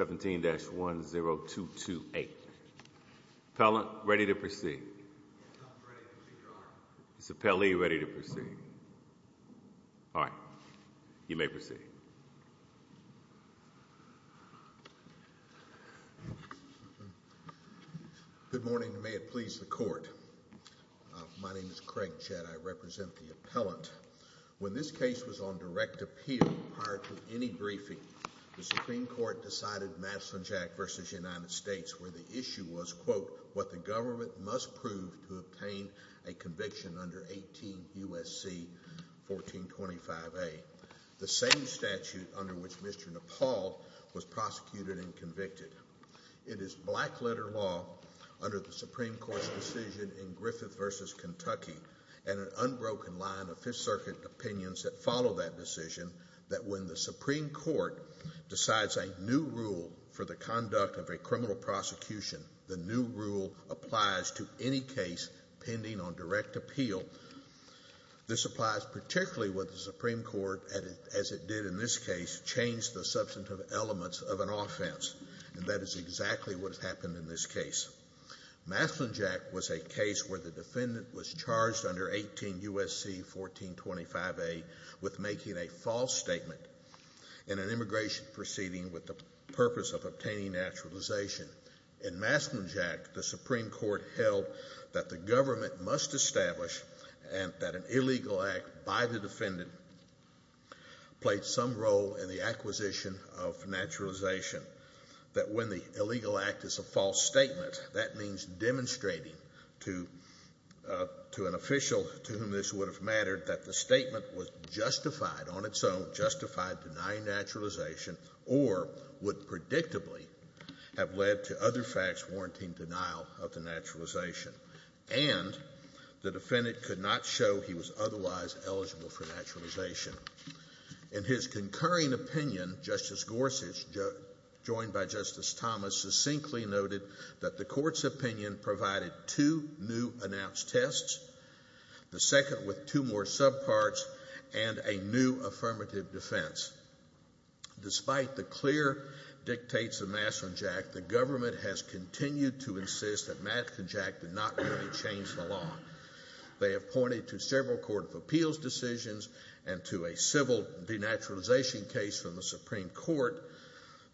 17-10228. Appellant, ready to proceed. Is the appellee ready to proceed? All right, you may proceed. Good morning, may it please the court. My name is Craig Chet. I represent the appellant. When this case was on direct appeal prior to any briefing, the Supreme Court decided Madison-Jack v. United States where the issue was, quote, what the government must prove to obtain a conviction under 18 U.S.C. 1425a, the same statute under which Mr. Nepal was prosecuted and convicted. It is black letter law under the Supreme Court's decision in Griffith v. Kentucky and an unbroken line of Fifth Circuit opinions that follow that decision that when the Supreme Court decides a new rule for the conduct of a criminal prosecution, the new rule applies to any case pending on direct appeal. This applies particularly with the Supreme Court as it did in this case change the substantive elements of an offense and that is exactly what has happened in this case. Madison-Jack was a case where the with making a false statement in an immigration proceeding with the purpose of obtaining naturalization. In Madison-Jack, the Supreme Court held that the government must establish and that an illegal act by the defendant played some role in the acquisition of naturalization. That when the illegal act is a false statement, that means demonstrating to an official to whom it would have mattered that the statement was justified on its own, justified denying naturalization or would predictably have led to other facts warranting denial of the naturalization and the defendant could not show he was otherwise eligible for naturalization. In his concurring opinion, Justice Gorsuch, joined by Justice Thomas, succinctly noted that the court's opinion provided two new announced tests, the second with two more subparts and a new affirmative defense. Despite the clear dictates of Madison-Jack, the government has continued to insist that Madison-Jack did not really change the law. They have pointed to several Court of Appeals decisions and to a civil denaturalization case from the Supreme Court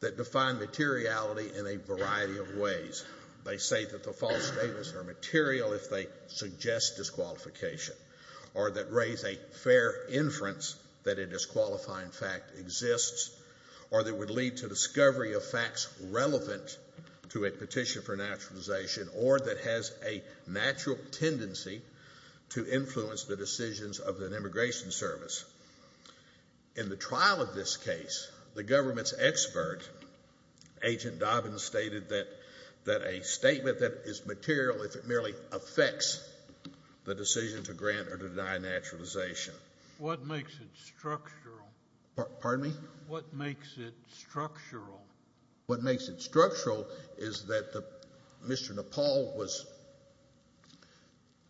that define materiality in a variety of ways. They say that the false statements are material if they suggest disqualification or that raise a fair inference that a disqualifying fact exists or that would lead to discovery of facts relevant to a petition for naturalization or that has a natural tendency to influence the decisions of an immigration service. In the trial of this case, the government's expert, Agent Dobbins, stated that a statement that is material if it merely affects the decision to grant or to deny naturalization. What makes it structural? Pardon me? What makes it structural? What makes it structural is that Mr. Nepal was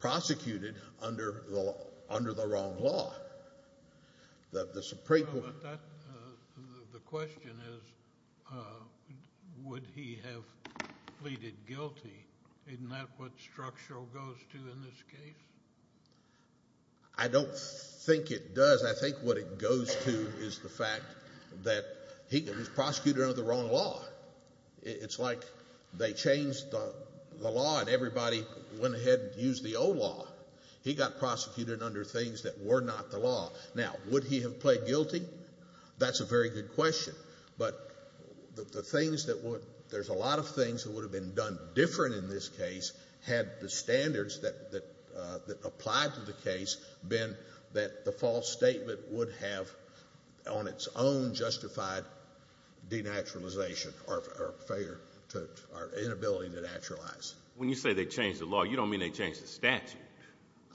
the question is would he have pleaded guilty? Isn't that what structural goes to in this case? I don't think it does. I think what it goes to is the fact that he was prosecuted under the wrong law. It's like they changed the law and everybody went ahead and used the old law. He got prosecuted under things that were not the law. Now, would he have pled guilty? That's a very good question, but there's a lot of things that would have been done different in this case had the standards that applied to the case been that the false statement would have on its own justified denaturalization or inability to naturalize. When you say they changed the law, you don't mean they changed the statute.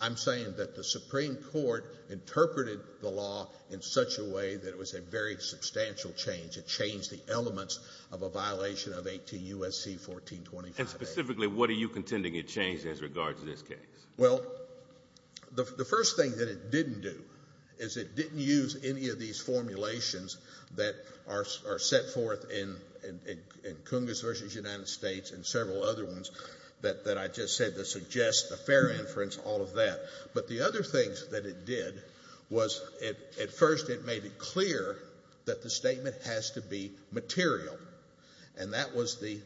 I'm saying that the Supreme Court interpreted the law in such a way that it was a very substantial change. It changed the elements of a violation of 18 U.S.C. 1425. And specifically, what are you contending it changed as regards to this case? Well, the first thing that it didn't do is it didn't use any of these formulations that are all of that. But the other things that it did was at first it made it clear that the statement has to be material. And that was the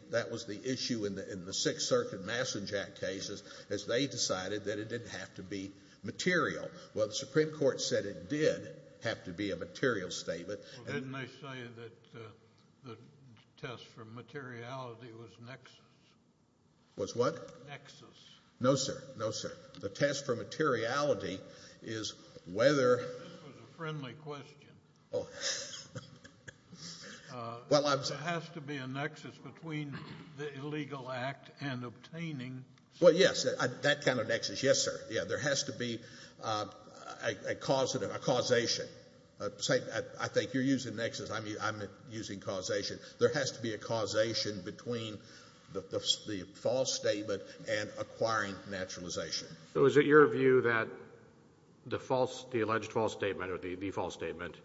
issue in the Sixth Circuit Massing Jack cases as they decided that it didn't have to be material. Well, the Supreme Court said it did have to be a material statement. Well, didn't they say that the test for materiality was nexus? Was what? Nexus. No, sir. No, sir. The test for materiality is whether. This was a friendly question. There has to be a nexus between the illegal act and obtaining. Well, yes. That kind of nexus. Yes, sir. Yeah. There has to be a causative, a causation. I think you're using nexus. I'm using causation. There has to be a causation between the false statement and acquiring naturalization. So is it your view that the alleged false statement or the false statement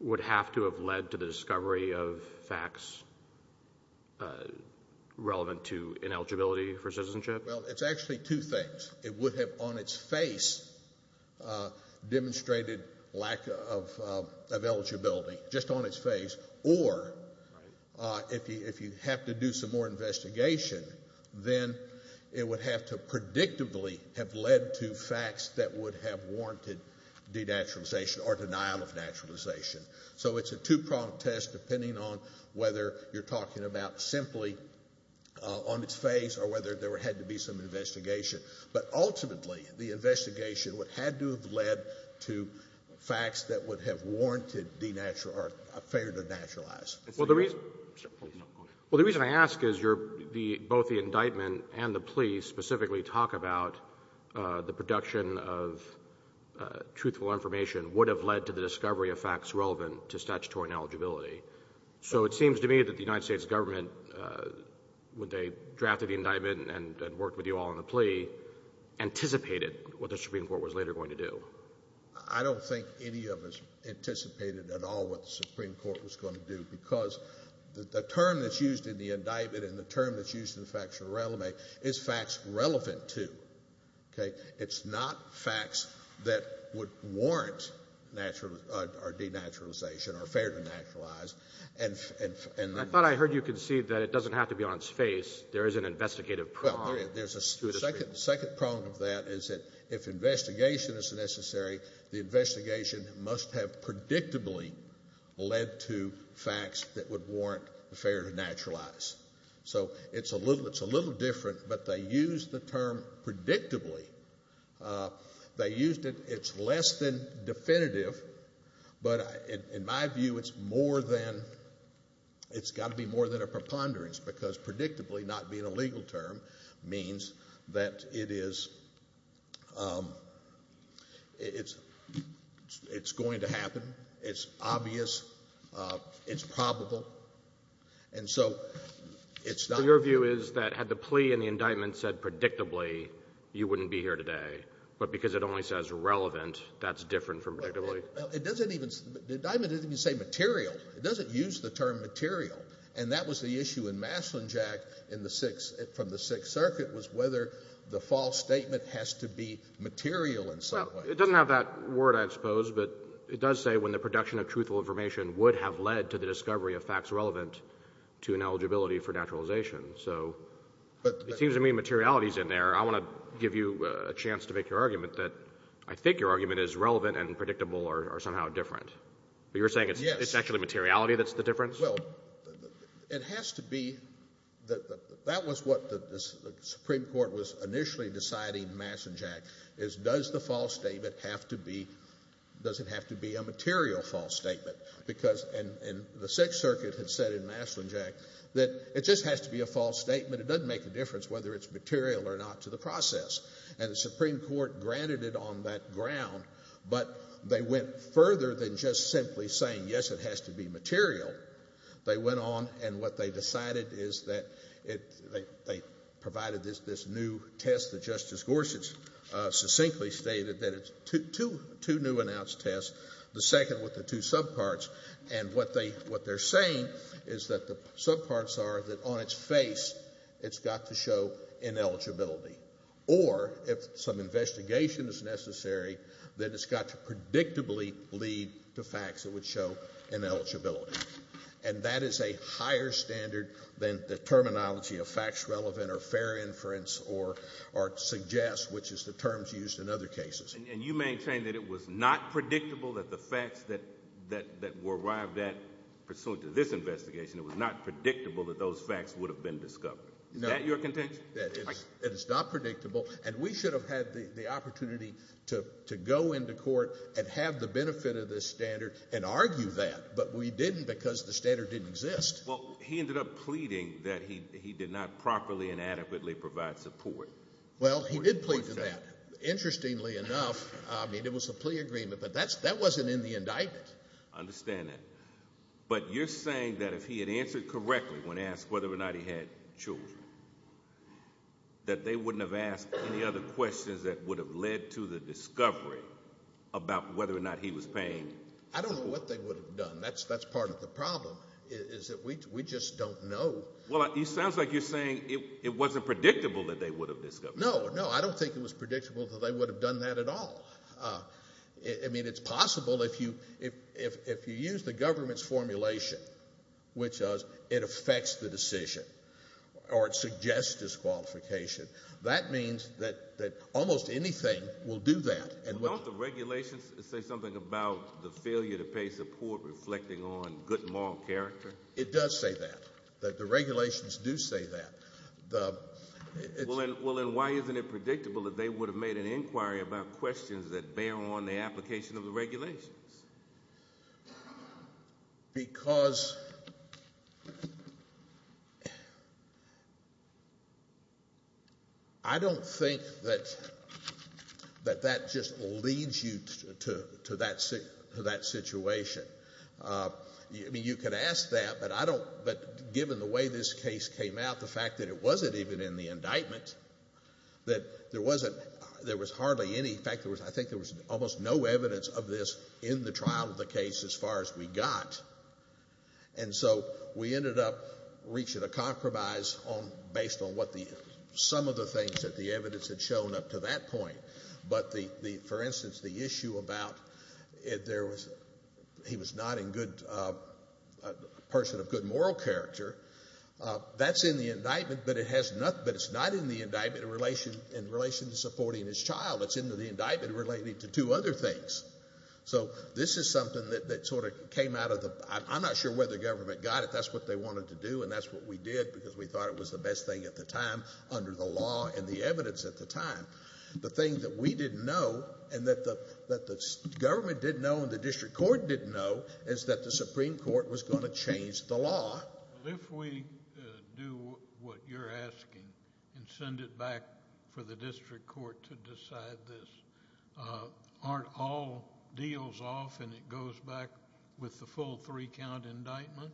would have to have led to the discovery of facts relevant to ineligibility for citizenship? Well, it's actually two things. It would have on its face demonstrated lack of eligibility, just on its face, or if you have to do some more investigation, then it would have to predictably have led to facts that would have warranted denaturalization or denial of naturalization. So it's a two-pronged test depending on whether you're talking about simply on its face or whether there had to be some investigation. But ultimately, the investigation would have to have led to facts that would have warranted denaturalization or failure to naturalize. Well, the reason I ask is both the indictment and the plea specifically talk about the production of truthful information would have led to the discovery of facts relevant to statutory ineligibility. So it seems to me that the United States government, when they drafted the indictment and worked with you all on the plea, anticipated what the Supreme Court was later going to do. I don't think any of us anticipated at all what the Supreme Court was going to do because the term that's used in the indictment and the term that's used in the factual relevance is facts relevant to. It's not facts that would warrant denaturalization or failure to naturalize. I thought I heard you concede that it doesn't have to be on its face. There is an investigative prong. Well, there's a second prong of that is that if investigation is necessary, the investigation must have predictably led to facts that would warrant the failure to naturalize. So it's a little different, but they used the term it's got to be more than a preponderance because predictably not being a legal term means that it is it's going to happen. It's obvious. It's probable. And so it's not. Your view is that had the plea and the indictment said predictably, you wouldn't be here today, but because it only says relevant, that's different from predictably. It doesn't even, the indictment doesn't even say material. It doesn't use the term material. And that was the issue in Maslinjack from the Sixth Circuit was whether the false statement has to be material in some way. It doesn't have that word, I suppose, but it does say when the production of truthful information would have led to the discovery of facts relevant to an eligibility for naturalization. So it seems to me materiality is in there. I want to give you a chance to make your argument that I think your It's actually materiality that's the difference? Well, it has to be that that was what the Supreme Court was initially deciding in Maslinjack is does the false statement have to be, does it have to be a material false statement? Because, and the Sixth Circuit had said in Maslinjack that it just has to be a false statement. It doesn't make a difference whether it's material or not to the process. And the Supreme Court granted it on that ground, but they went further than just simply saying, yes, it has to be material. They went on, and what they decided is that they provided this new test that Justice Gorsuch succinctly stated that it's two new announced tests, the second with the two subparts. And what they're saying is that the subparts are that on its face, it's got to show ineligibility. Or if some predictably lead to facts that would show ineligibility. And that is a higher standard than the terminology of facts relevant or fair inference or, or suggest, which is the terms used in other cases. And you maintain that it was not predictable that the facts that that that were arrived at pursuant to this investigation, it was not predictable that those facts would have been discovered. Is that your contention? It's not predictable. And we should have had the benefit of this standard and argue that, but we didn't because the standard didn't exist. Well, he ended up pleading that he did not properly and adequately provide support. Well, he did plead to that. Interestingly enough, I mean, it was a plea agreement, but that's that wasn't in the indictment. I understand that. But you're saying that if he had answered correctly when asked whether or not he had children, that they wouldn't have any other questions that would have led to the discovery about whether or not he was paying. I don't know what they would have done. That's, that's part of the problem is that we, we just don't know. Well, it sounds like you're saying it wasn't predictable that they would have discovered. No, no, I don't think it was predictable that they would have done that at all. I mean, it's possible if you, if, if, if you use the government's formulation, which is it affects the decision or it suggests disqualification, that means that, that almost anything will do that. And what the regulations say something about the failure to pay support reflecting on good moral character. It does say that, that the regulations do say that the, well, and why isn't it predictable that they would have made an inquiry about questions that were, that were, that were, that were, that were, that were, that were, that were, that were questionable? Because I don't think that, that that just leads you to, to, to that, to that situation. I mean, you could ask that, but I don't, but given the way this case came out, the fact that it wasn't even in the indictment, that there wasn't, there was hardly any, in fact, there was, I think there was almost no evidence of this in the trial of the case as far as we got, and so we ended up reaching a compromise on, based on what the, some of the things that the evidence had shown up to that point. But the, the, for instance, the issue about, if there was, he was not in good, a person of good moral character, that's in the indictment, but it has nothing, but it's not in the indictment in relation, in relation to supporting his child, it's in the indictment related to two other things. So this is something that, that sort of came out of the, I'm not sure whether government got it, that's what they wanted to do, and that's what we did, because we thought it was the best thing at the time, under the law and the evidence at the time. The thing that we didn't know, and that the, that the government didn't know, and the district court didn't know, is that the Supreme Court was going to change the law. If we do what you're asking and send it back for the district court to decide this, aren't all deals off and it goes back with the full three-count indictment?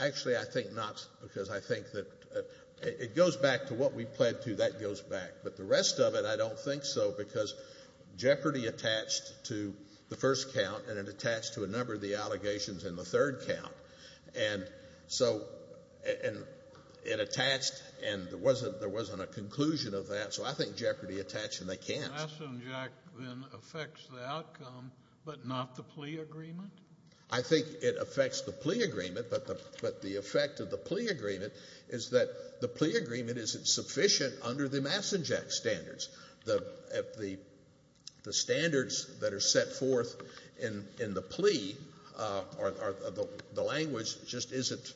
Actually, I think not, because I think that it goes back to what we pled to, that goes back. But the rest of it, I don't think so, because Jeopardy attached to the first count, and it attached to a number of the allegations in the third count. And so, and it attached, and there wasn't, there wasn't a conclusion of that. So I think Jeopardy attached, and they can't. Mason Jack then affects the outcome, but not the plea agreement? I think it affects the plea agreement, but the, but the effect of the plea agreement is that the plea agreement isn't sufficient under the Mason Jack standards. The, at the, the standards that are set forth in, in the plea are, are, the language just isn't,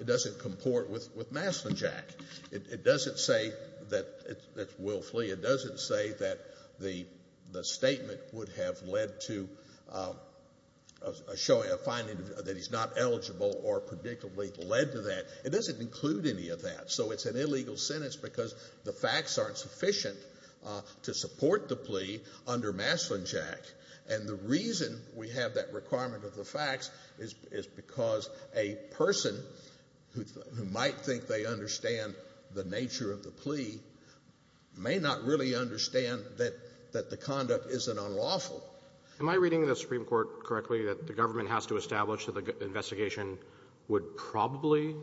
it doesn't comport with, with Mason Jack. It doesn't say that it will flee. It doesn't say that the, the statement would have led to a showing, a finding that he's not eligible or predictably led to that. It doesn't include any of that. So it's an illegal sentence because the facts aren't sufficient to support the plea under Mason Jack. And the reason we have that requirement of the facts is, is because a person who, who might think they understand the nature of the plea may not really understand that, that the conduct isn't unlawful. Am I reading the Supreme Court correctly, that the government has to establish that the investigation would probably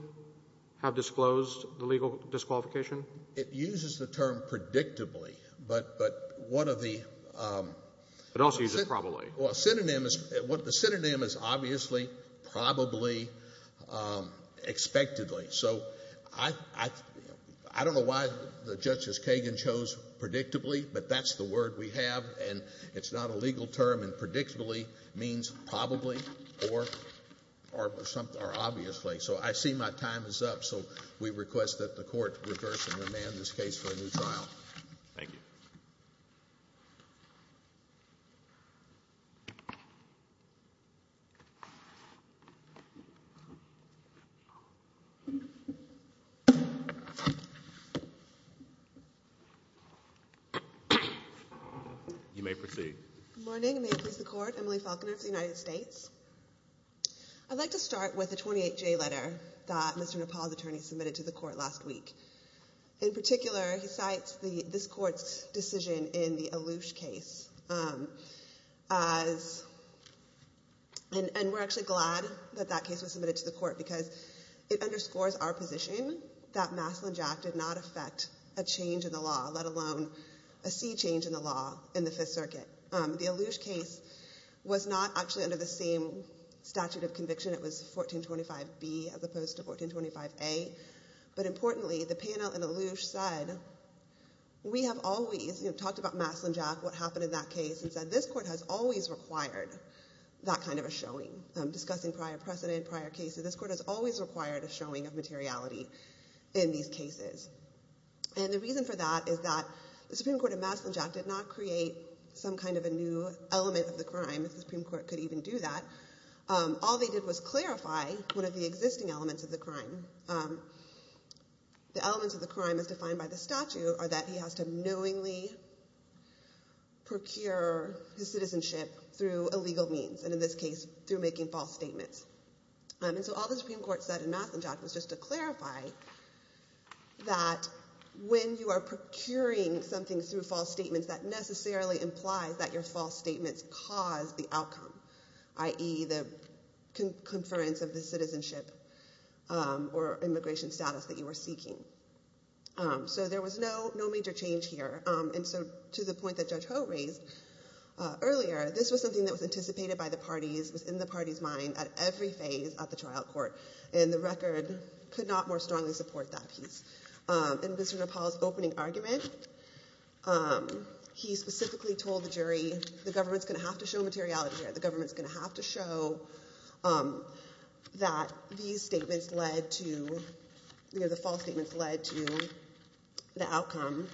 have disclosed the legal disqualification? It uses the term predictably, but, but one of the... It also uses probably. Well, a synonym is, what the synonym is, obviously, probably, expectedly. So I, I, I don't know why the Justice Kagan chose predictably, but that's the word we have, and it's not a legal term. And predictably means probably or, or something, or obviously. So I see my time is up. So we request that the court reverse and remand this case for a new trial. Thank you. You may proceed. Good morning. May it please the Court. Emily Falconer of the United States. I'd like to start with the 28J letter that Mr. Nepal's attorney submitted to the court last week. In particular, he cites the, this court's decision in the Allouche case as, and, and we're actually glad that that case was submitted to the court because it underscores our position that Maslin-Jack did not affect a change in the law, let alone a sea change in the law in the Fifth Circuit. The Allouche case was not actually under the same statute of conviction. It was 1425B as opposed to 1425A. But importantly, the panel in Allouche said, we have always, you know, talked about Maslin-Jack, what happened in that case, and said this court has always required that kind of a showing. Discussing prior precedent, prior cases, this court has always required a showing of materiality in these cases. And the reason for that is that the Supreme Court of Maslin-Jack did not create some kind of a new element of the crime, if the Supreme Court could even do that. All they did was clarify one of the existing elements of the crime. The elements of the crime as defined by the statute are that he has to knowingly procure his citizenship through illegal means, and in this case, through making false statements. And so all the Supreme Court said in Maslin-Jack was just to clarify that when you are procuring something through false statements, that necessarily implies that your false statements cause the outcome, i.e. the conference of the citizenship or immigration status that you were seeking. So there was no major change here. And so to the point that Judge Ho raised earlier, this was something that was anticipated by the parties, was in the parties' mind at every phase of the trial court. And the record could not more argument. He specifically told the jury, the government's going to have to show materiality here. The government's going to have to show that these statements led to, you know, the false statements led to the outcome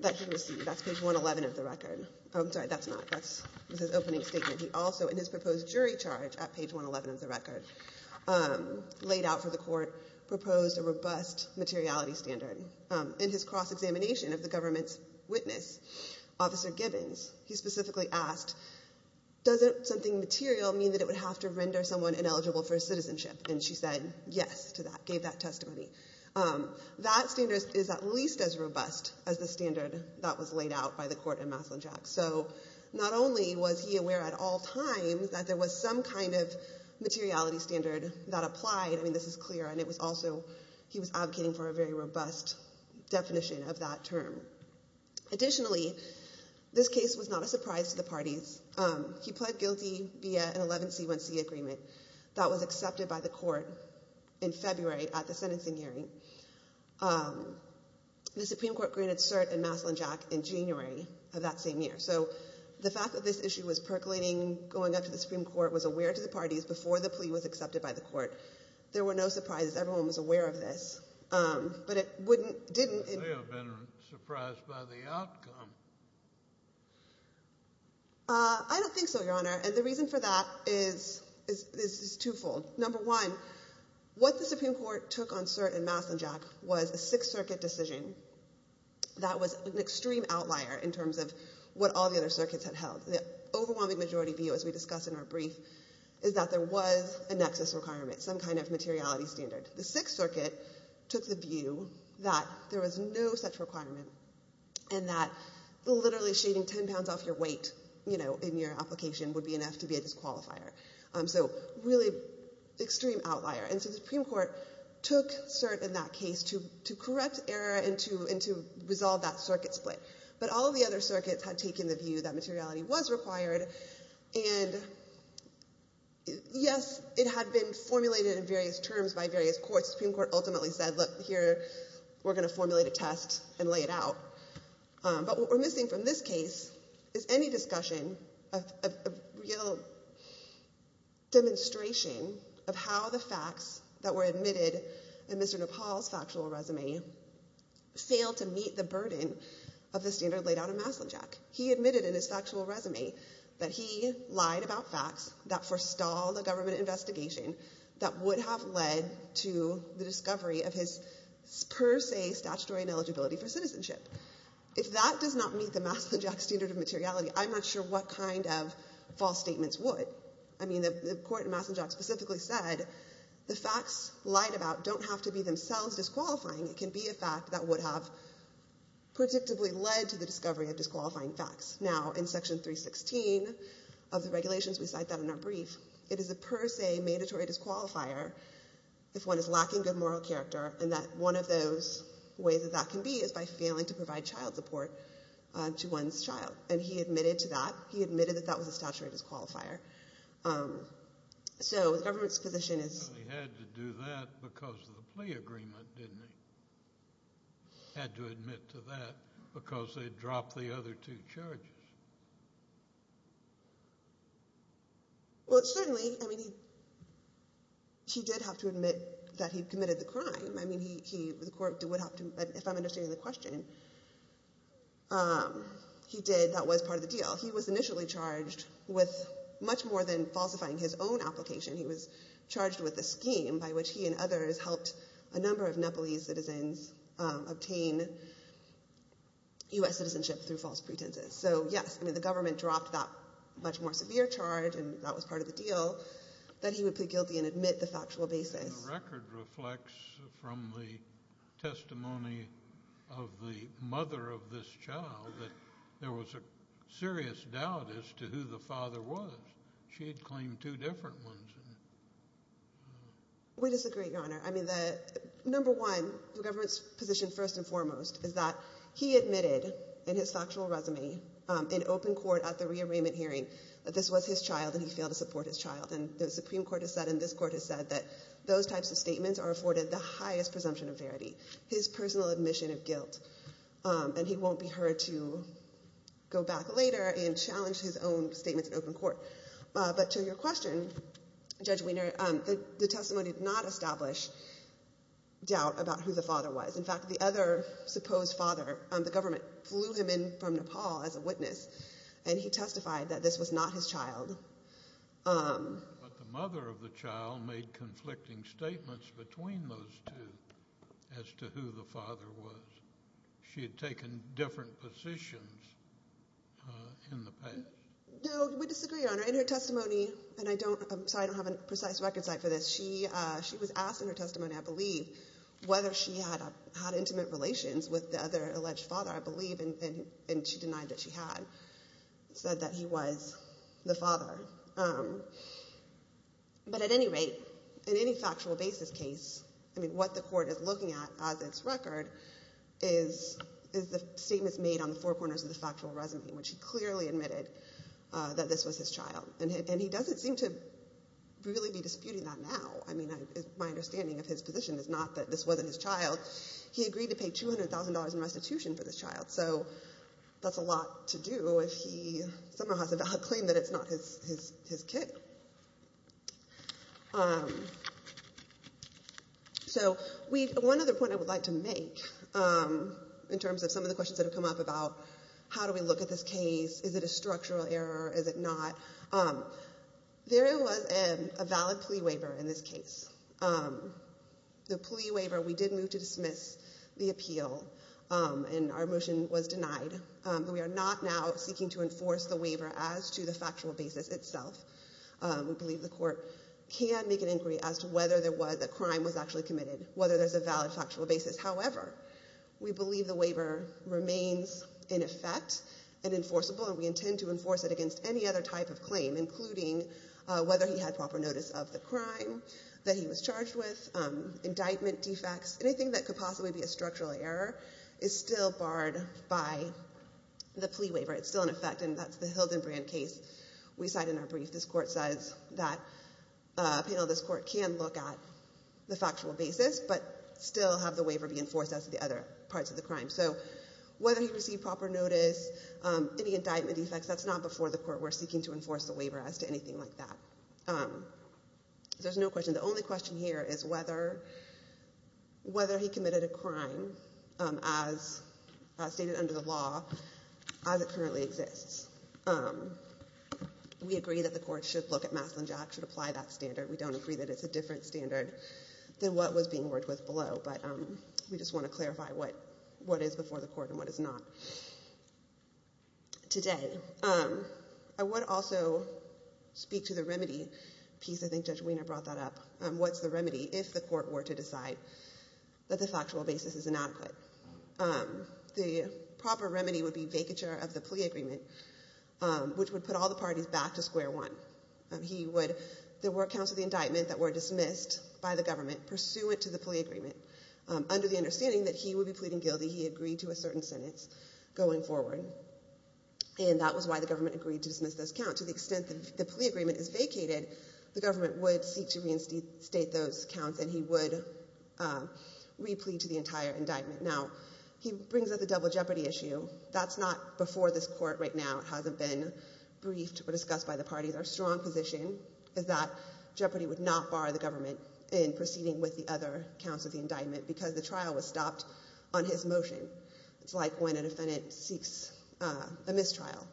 that he received. That's page 111 of the record. I'm sorry, that's not, that's his opening statement. He also, in his proposed jury charge at page 111 of the record, laid out for the court, proposed a robust materiality standard. In his cross-examination of the government's witness, Officer Gibbons, he specifically asked, doesn't something material mean that it would have to render someone ineligible for citizenship? And she said yes to that, gave that testimony. That standard is at least as robust as the standard that was laid out by the court in Maslin-Jack. So not only was he aware at all times that there was some kind of standard that applied, I mean, this is clear, and it was also, he was advocating for a very robust definition of that term. Additionally, this case was not a surprise to the parties. He pled guilty via an 11C1C agreement that was accepted by the court in February at the sentencing hearing. The Supreme Court granted cert in Maslin-Jack in January of that same year. So the fact that this issue was percolating, going up to the Supreme Court, was aware to the parties before the plea was accepted by the court. There were no surprises. Everyone was aware of this, but it wouldn't, didn't... They have been surprised by the outcome. I don't think so, Your Honor, and the reason for that is twofold. Number one, what the Supreme Court took on cert in Maslin-Jack was a Sixth Circuit decision that was an extreme outlier in terms of what all the other circuits had held. The overwhelming majority view, as we discuss in our nexus requirements, some kind of materiality standard. The Sixth Circuit took the view that there was no such requirement, and that literally shaving 10 pounds off your weight, you know, in your application would be enough to be a disqualifier. So really extreme outlier, and so the Supreme Court took cert in that case to correct error and to resolve that circuit split, but all of the other circuits had taken the view that materiality was required, and yes, it had been formulated in various terms by various courts. The Supreme Court ultimately said, look, here, we're going to formulate a test and lay it out, but what we're missing from this case is any discussion of a real demonstration of how the facts that were admitted in Mr. Nepal's factual resume failed to meet the burden of the standard laid out in Maslin-Jack. He admitted in his factual resume that he lied about facts that forestalled a government investigation that would have led to the discovery of his per se statutory ineligibility for citizenship. If that does not meet the Maslin-Jack standard of materiality, I'm not sure what kind of false statements would. I mean, the court in Maslin-Jack specifically said the facts lied about don't have to be themselves disqualifying. It can be a fact that would have predictably led to the discovery of Section 316 of the regulations. We cite that in our brief. It is a per se mandatory disqualifier if one is lacking good moral character, and that one of those ways that that can be is by failing to provide child support to one's child, and he admitted to that. He admitted that that was a statutory disqualifier, so the government's position is... They had to do that because of the plea charges. Well, certainly, I mean, he did have to admit that he committed the crime. I mean, the court would have to... If I'm understanding the question, he did. That was part of the deal. He was initially charged with much more than falsifying his own application. He was charged with a scheme by which he and others helped a number of Nepalese citizens obtain U.S. citizenship through false pretenses, so yes, I mean, the government dropped that much more severe charge, and that was part of the deal, that he would plead guilty and admit the factual basis. The record reflects from the testimony of the mother of this child that there was a serious doubt as to who the father was. She had claimed two different ones. We disagree, Your Honor. I mean, the number one, the government's position first and foremost is that he admitted in his factual resume in open court at the rearrangement hearing that this was his child, and he failed to support his child, and the Supreme Court has said, and this Court has said that those types of statements are afforded the highest presumption of verity, his personal admission of guilt, and he won't be heard to go back later and challenge his own statements in open court, but to your question, Judge Wiener, the testimony did not establish doubt about who the father was. In fact, the other supposed father, the government flew him in from Nepal as a witness, and he testified that this was not his child. But the mother of the child made conflicting statements between those two as to who the father was. She had taken different positions in the past. No, we disagree, Your Honor. In her testimony, and I don't, I'm sorry, I don't have a precise record site for this, she was asked in her testimony, I believe, whether she had intimate relations with the other alleged father, I believe, and she denied that she had, said that he was the father. But at any rate, in any factual basis case, I mean, what the Court is looking at as its record is the statements made on the four corners of the factual resume, which he clearly admitted that this was his child. And he doesn't seem to really be disputing that now. I mean, my understanding of his position is not that this wasn't his child. He agreed to pay $200,000 in restitution for this child. So that's a lot to do if he somehow has a bad claim that it's not his kid. So one other point I would like to make in terms of some of the questions that have come up about how do we look at this case? Is it a structural error? Is it not? There was a valid plea waiver in this case. The plea waiver, we did move to dismiss the appeal, and our motion was denied. We are not now seeking to enforce the waiver as to the factual basis itself. We believe the Court can make an inquiry as to whether there was, that crime was actually in effect and enforceable, and we intend to enforce it against any other type of claim, including whether he had proper notice of the crime that he was charged with, indictment defects. Anything that could possibly be a structural error is still barred by the plea waiver. It's still in effect, and that's the Hildenbrand case we cite in our brief. This Court says that a panel of this Court can look at the factual basis but still have the waiver be any indictment defects. That's not before the Court. We're seeking to enforce the waiver as to anything like that. There's no question. The only question here is whether he committed a crime as stated under the law as it currently exists. We agree that the Court should look at Maslin-Jack, should apply that standard. We don't agree that it's a different standard than what was being worked with below, but we just want to clarify what is before the Court and what is not. Today, I would also speak to the remedy piece. I think Judge Wiener brought that up. What's the remedy if the Court were to decide that the factual basis is inadequate? The proper remedy would be vacature of the plea agreement, which would put all the parties back to square one. There were accounts of the indictment that were dismissed by the government pursuant to the plea agreement. Under the understanding that he would be pleading guilty, he agreed to a certain sentence going forward, and that was why the government agreed to dismiss those accounts. To the extent that the plea agreement is vacated, the government would seek to reinstate those accounts, and he would re-plead to the entire indictment. Now, he brings up the double jeopardy issue. That's not before this Court right now. It hasn't been briefed or discussed by the parties. Our strong position is that jeopardy would not bar the government in proceeding with the other indictment because the trial was stopped on his motion. It's like when a defendant seeks a mistrial.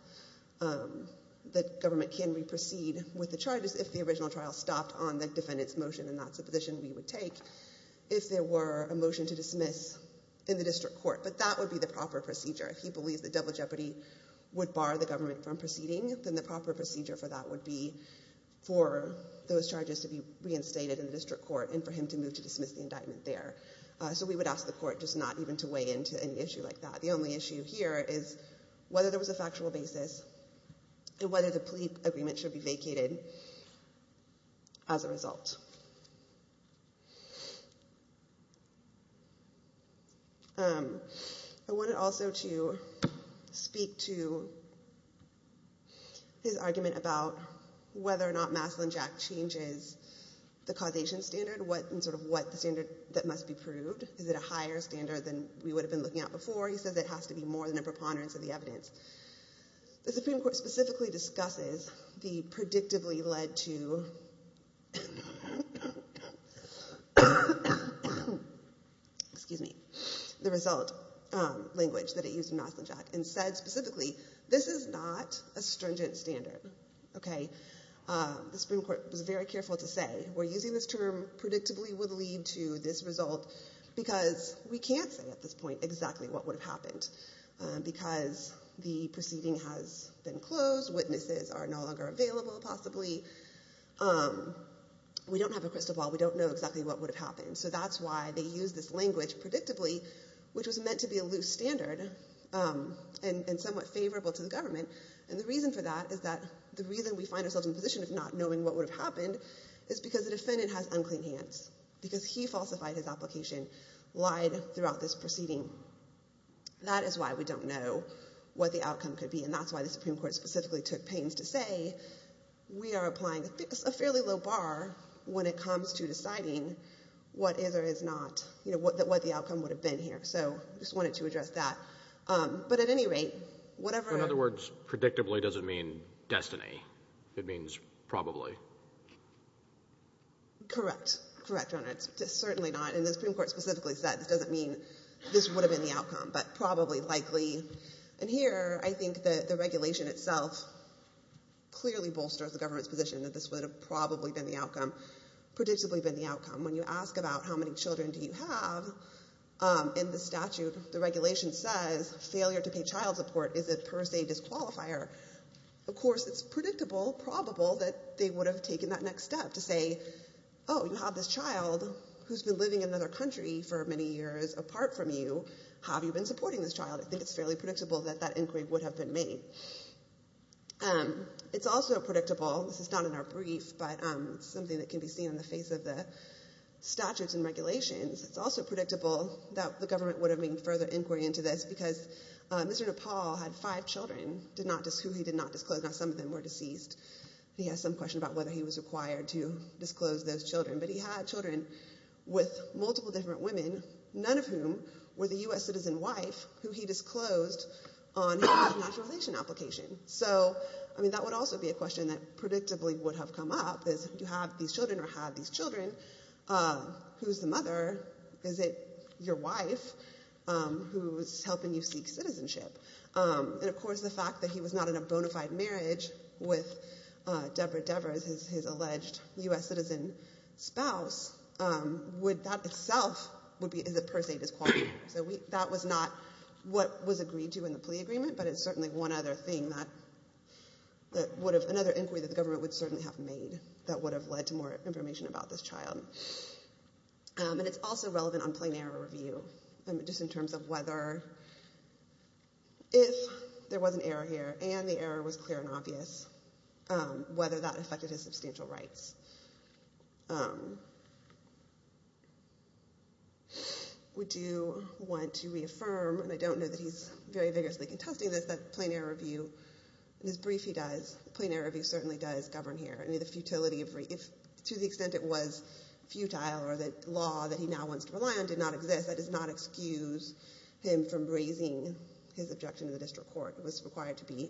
The government can re-proceed with the charges if the original trial stopped on the defendant's motion, and that's the position we would take if there were a motion to dismiss in the district court, but that would be the proper procedure. If he believes the double jeopardy would bar the government from proceeding, then the proper procedure for that would be for those charges to be reinstated in the district court and for him to move to dismiss the indictment there, so we would ask the Court just not even to weigh into an issue like that. The only issue here is whether there was a factual basis and whether the plea agreement should be vacated as a result. I wanted also to speak to his argument about whether or not Maslin-Jack changes the causation standard and sort of what the standard that must be proved. Is it a higher standard than we would have been looking at before? He says it has to be more than a preponderance of the evidence. The Supreme Court specifically discusses the predictably led to the result language that it used in Maslin-Jack and said specifically, this is not a stringent standard. The Supreme Court was very careful to say, we're using this term predictably would lead to this result because we can't say at this point exactly what would have happened because the proceeding has been closed, witnesses are no longer available possibly. We don't have a crystal ball. We don't know exactly what would have happened. That's why they use this language predictably, which was meant to be a loose standard and somewhat favorable to the government. The reason for that is that the reason we find ourselves in a position of not knowing what would have happened is because the defendant has unclean hands because he falsified his application, lied throughout this proceeding. That is why we don't know what the outcome could be. That's why the Supreme Court specifically took pains to say, we are applying a fairly low bar when it comes to deciding what is or is not, what the outcome would have been here. I just wanted to address that. But at any rate, whatever... In other words, predictably doesn't mean destiny. It means probably. Correct. Correct, Your Honor. It's certainly not, and the Supreme Court specifically said it doesn't mean this would have been the outcome, but probably, likely. And here, I think that the regulation itself clearly bolsters the government's position that this would have probably been the outcome, predictably been the outcome. When you ask about how many children do you have in the statute, the regulation says failure to pay child support is a per se disqualifier. Of course, it's predictable, probable that they would have taken that next step to say, oh, you have this child who's been in another country for many years. Apart from you, have you been supporting this child? I think it's fairly predictable that that inquiry would have been made. It's also predictable, this is not in our brief, but it's something that can be seen in the face of the statutes and regulations. It's also predictable that the government would have made further inquiry into this because Mr. Nepal had five children who he did not disclose. Now, some of them were deceased. He has some question about whether he was required to disclose those children. But he had children with multiple different women, none of whom were the U.S. citizen wife who he disclosed on his denaturalization application. That would also be a question that predictably would have come up is, do you have these children or have these children? Who's the mother? Is it your wife who's helping you seek citizenship? Of course, the fact that he was not in a bona fide marriage with Deborah Devers, his alleged U.S. citizen spouse, that itself would be per se disqualifying. So that was not what was agreed to in the plea agreement, but it's certainly one other thing that would have another inquiry that the government would certainly have made that would have led to more information about this child. And it's also relevant on plain error whether that affected his substantial rights. We do want to reaffirm, and I don't know that he's very vigorously contesting this, that plain error review, in his brief he does, plain error review certainly does govern here. To the extent it was futile or the law that he now wants to rely on did not exist, that does not excuse him from raising his objection to the district court. It was required to be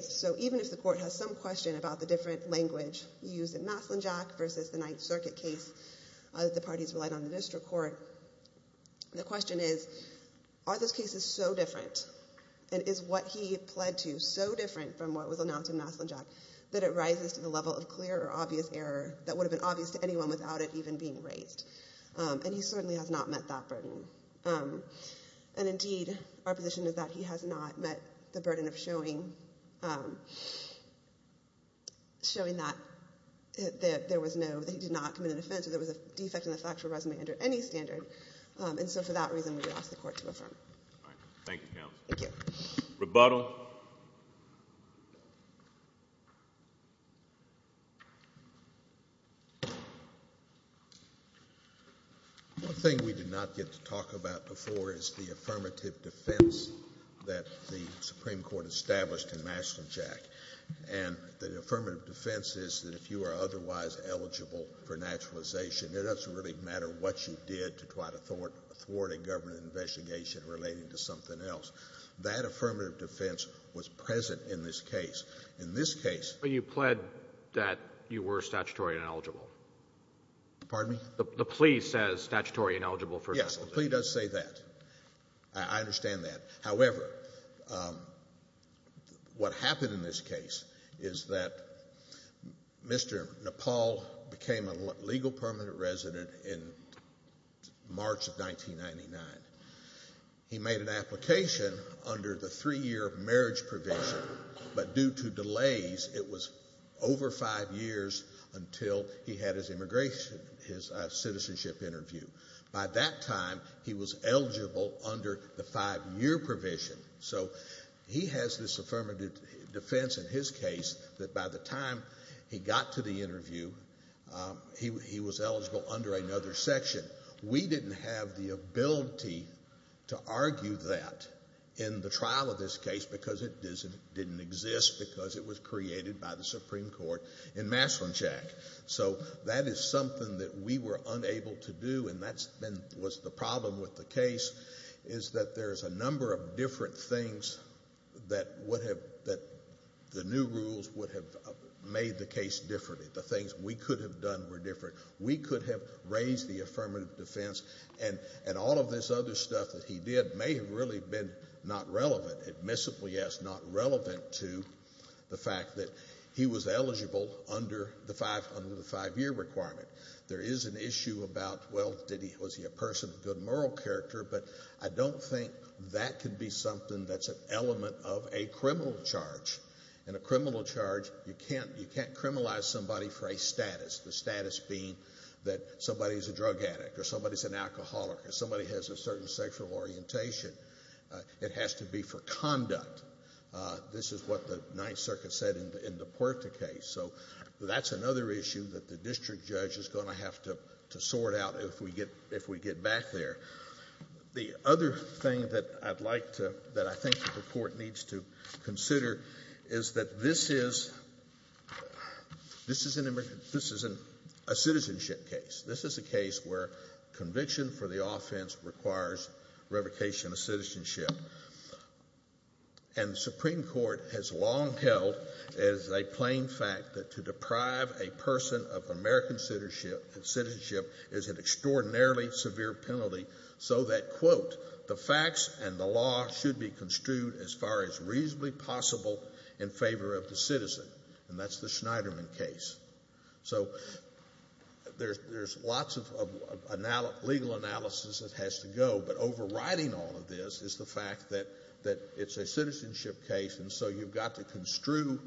so even if the court has some question about the different language used in Maslinjack versus the Ninth Circuit case that the parties relied on the district court, the question is are those cases so different and is what he pled to so different from what was announced in Maslinjack that it rises to the level of clear or obvious error that would have been obvious to anyone without it even being raised? And he certainly has not met that burden. And indeed our position is that he has not met the burden of showing that there was no, that he did not commit an offense or there was a defect in the factual resume under any standard. And so for that reason we would ask the court to affirm it. All right. Thank you, counsel. Thank you. Rebuttal. One thing we did not get to talk about before is the affirmative defense that the Supreme Court established in Maslinjack. And the affirmative defense is that if you are otherwise eligible for naturalization, it doesn't really matter what you did to try to thwart a government investigation relating to something else. That affirmative defense was present in this case. In this case When you pled that you were statutory ineligible. Pardon me? The plea says statutory ineligible for naturalization. Yes, the plea does say that. I understand that. However, what happened in this case is that Mr. Nepal became a legal permanent resident in March of 1999. He made an application under the three-year marriage provision, but due to delays it was over five years until he had his immigration, his citizenship interview. By that time he was eligible under the five-year provision. So he has this affirmative defense in his case that by the time he got to the interview, he was eligible under another section. We didn't have the ability to argue that in the trial of this case because it didn't exist because it was created by the Supreme Court in Maslinjack. So that is something that we were unable to do. And that's been the problem with the case is that there's a number of different things that would have that the new rules would have made the case differently. The things we could have done were different. We could have raised the affirmative defense and all of this other stuff that he did may have really been not relevant, admissible yes, not relevant to the fact that he was eligible under the five-year requirement. There is an issue about, well, was he a person of good moral character? But I don't think that could be something that's an element of a criminal charge. In a criminal charge, you can't criminalize somebody for a status. The status being that somebody is a drug addict or somebody's an alcoholic or somebody has a certain sexual orientation. It has to be for conduct. This is what the Ninth Circuit said in the Puerta case. So that's another issue that the district judge is going to have to sort out if we get back there. The other thing that I think the court needs to consider is that this is a citizenship case. This is a case where conviction for the offense requires revocation of citizenship. And the Supreme Court has long held as a plain fact that to deprive a person of American citizenship is an extraordinarily severe penalty so that, quote, the facts and the law should be construed as far as reasonably possible in favor of the citizen. And that's the Schneiderman case. So there's lots of legal analysis that has to go, but overriding all of this is the fact that it's a citizenship case, and so you've got to construe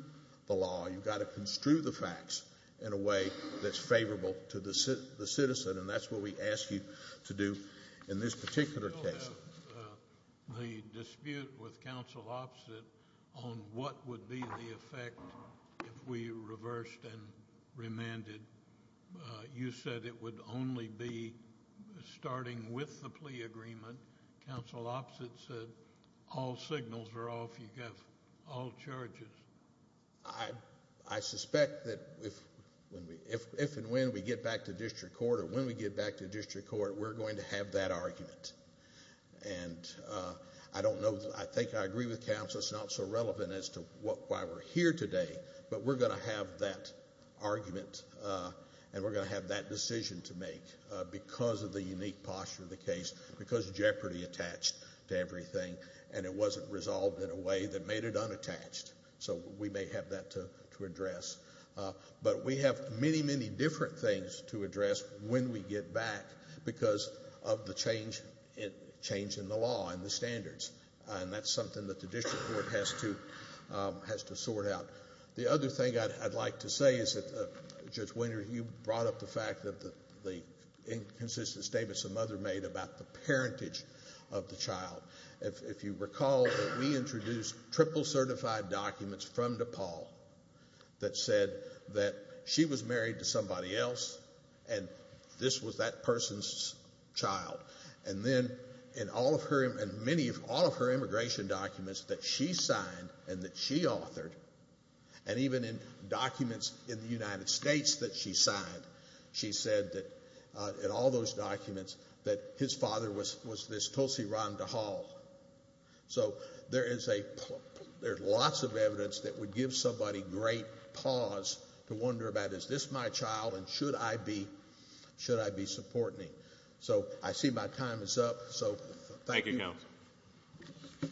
the facts in a way that's favorable to the citizen, and that's what we ask you to do in this particular case. The dispute with counsel opposite on what would be the effect if we reversed and remanded. You said it would only be starting with the plea agreement. Counsel opposite said all signals are off. You have all charges. I suspect that if and when we get back to district court or when we get back to district court, we're going to have that argument. And I don't know, I think I agree with counsel, it's not so relevant as to why we're here today, but we're going to have that argument and we're going to have that decision to make because of the unique posture of the case, because jeopardy attached to everything, and it wasn't resolved in a way that made it unattached. So we may have that to address. But we have many, many different things to address when we get back because of the change in the law and the standards, and that's something that the district court has to sort out. The other thing I'd like to say is that Judge Wiener, you brought up the fact that the inconsistent statements the mother made about the parentage of the child. If you recall, we introduced triple certified documents from DePaul that said that she was married to somebody else and this was that person's child. And then in all of her immigration documents that she signed and that she authored, and even in documents in the United States that she signed, she said that in all those documents that his father was this Tulsi Rhonda Hall. So there's lots of evidence that would give somebody great pause to wonder about, is this my child and should I be supporting him? So I see my time is up. So thank you. Thank you, counsel.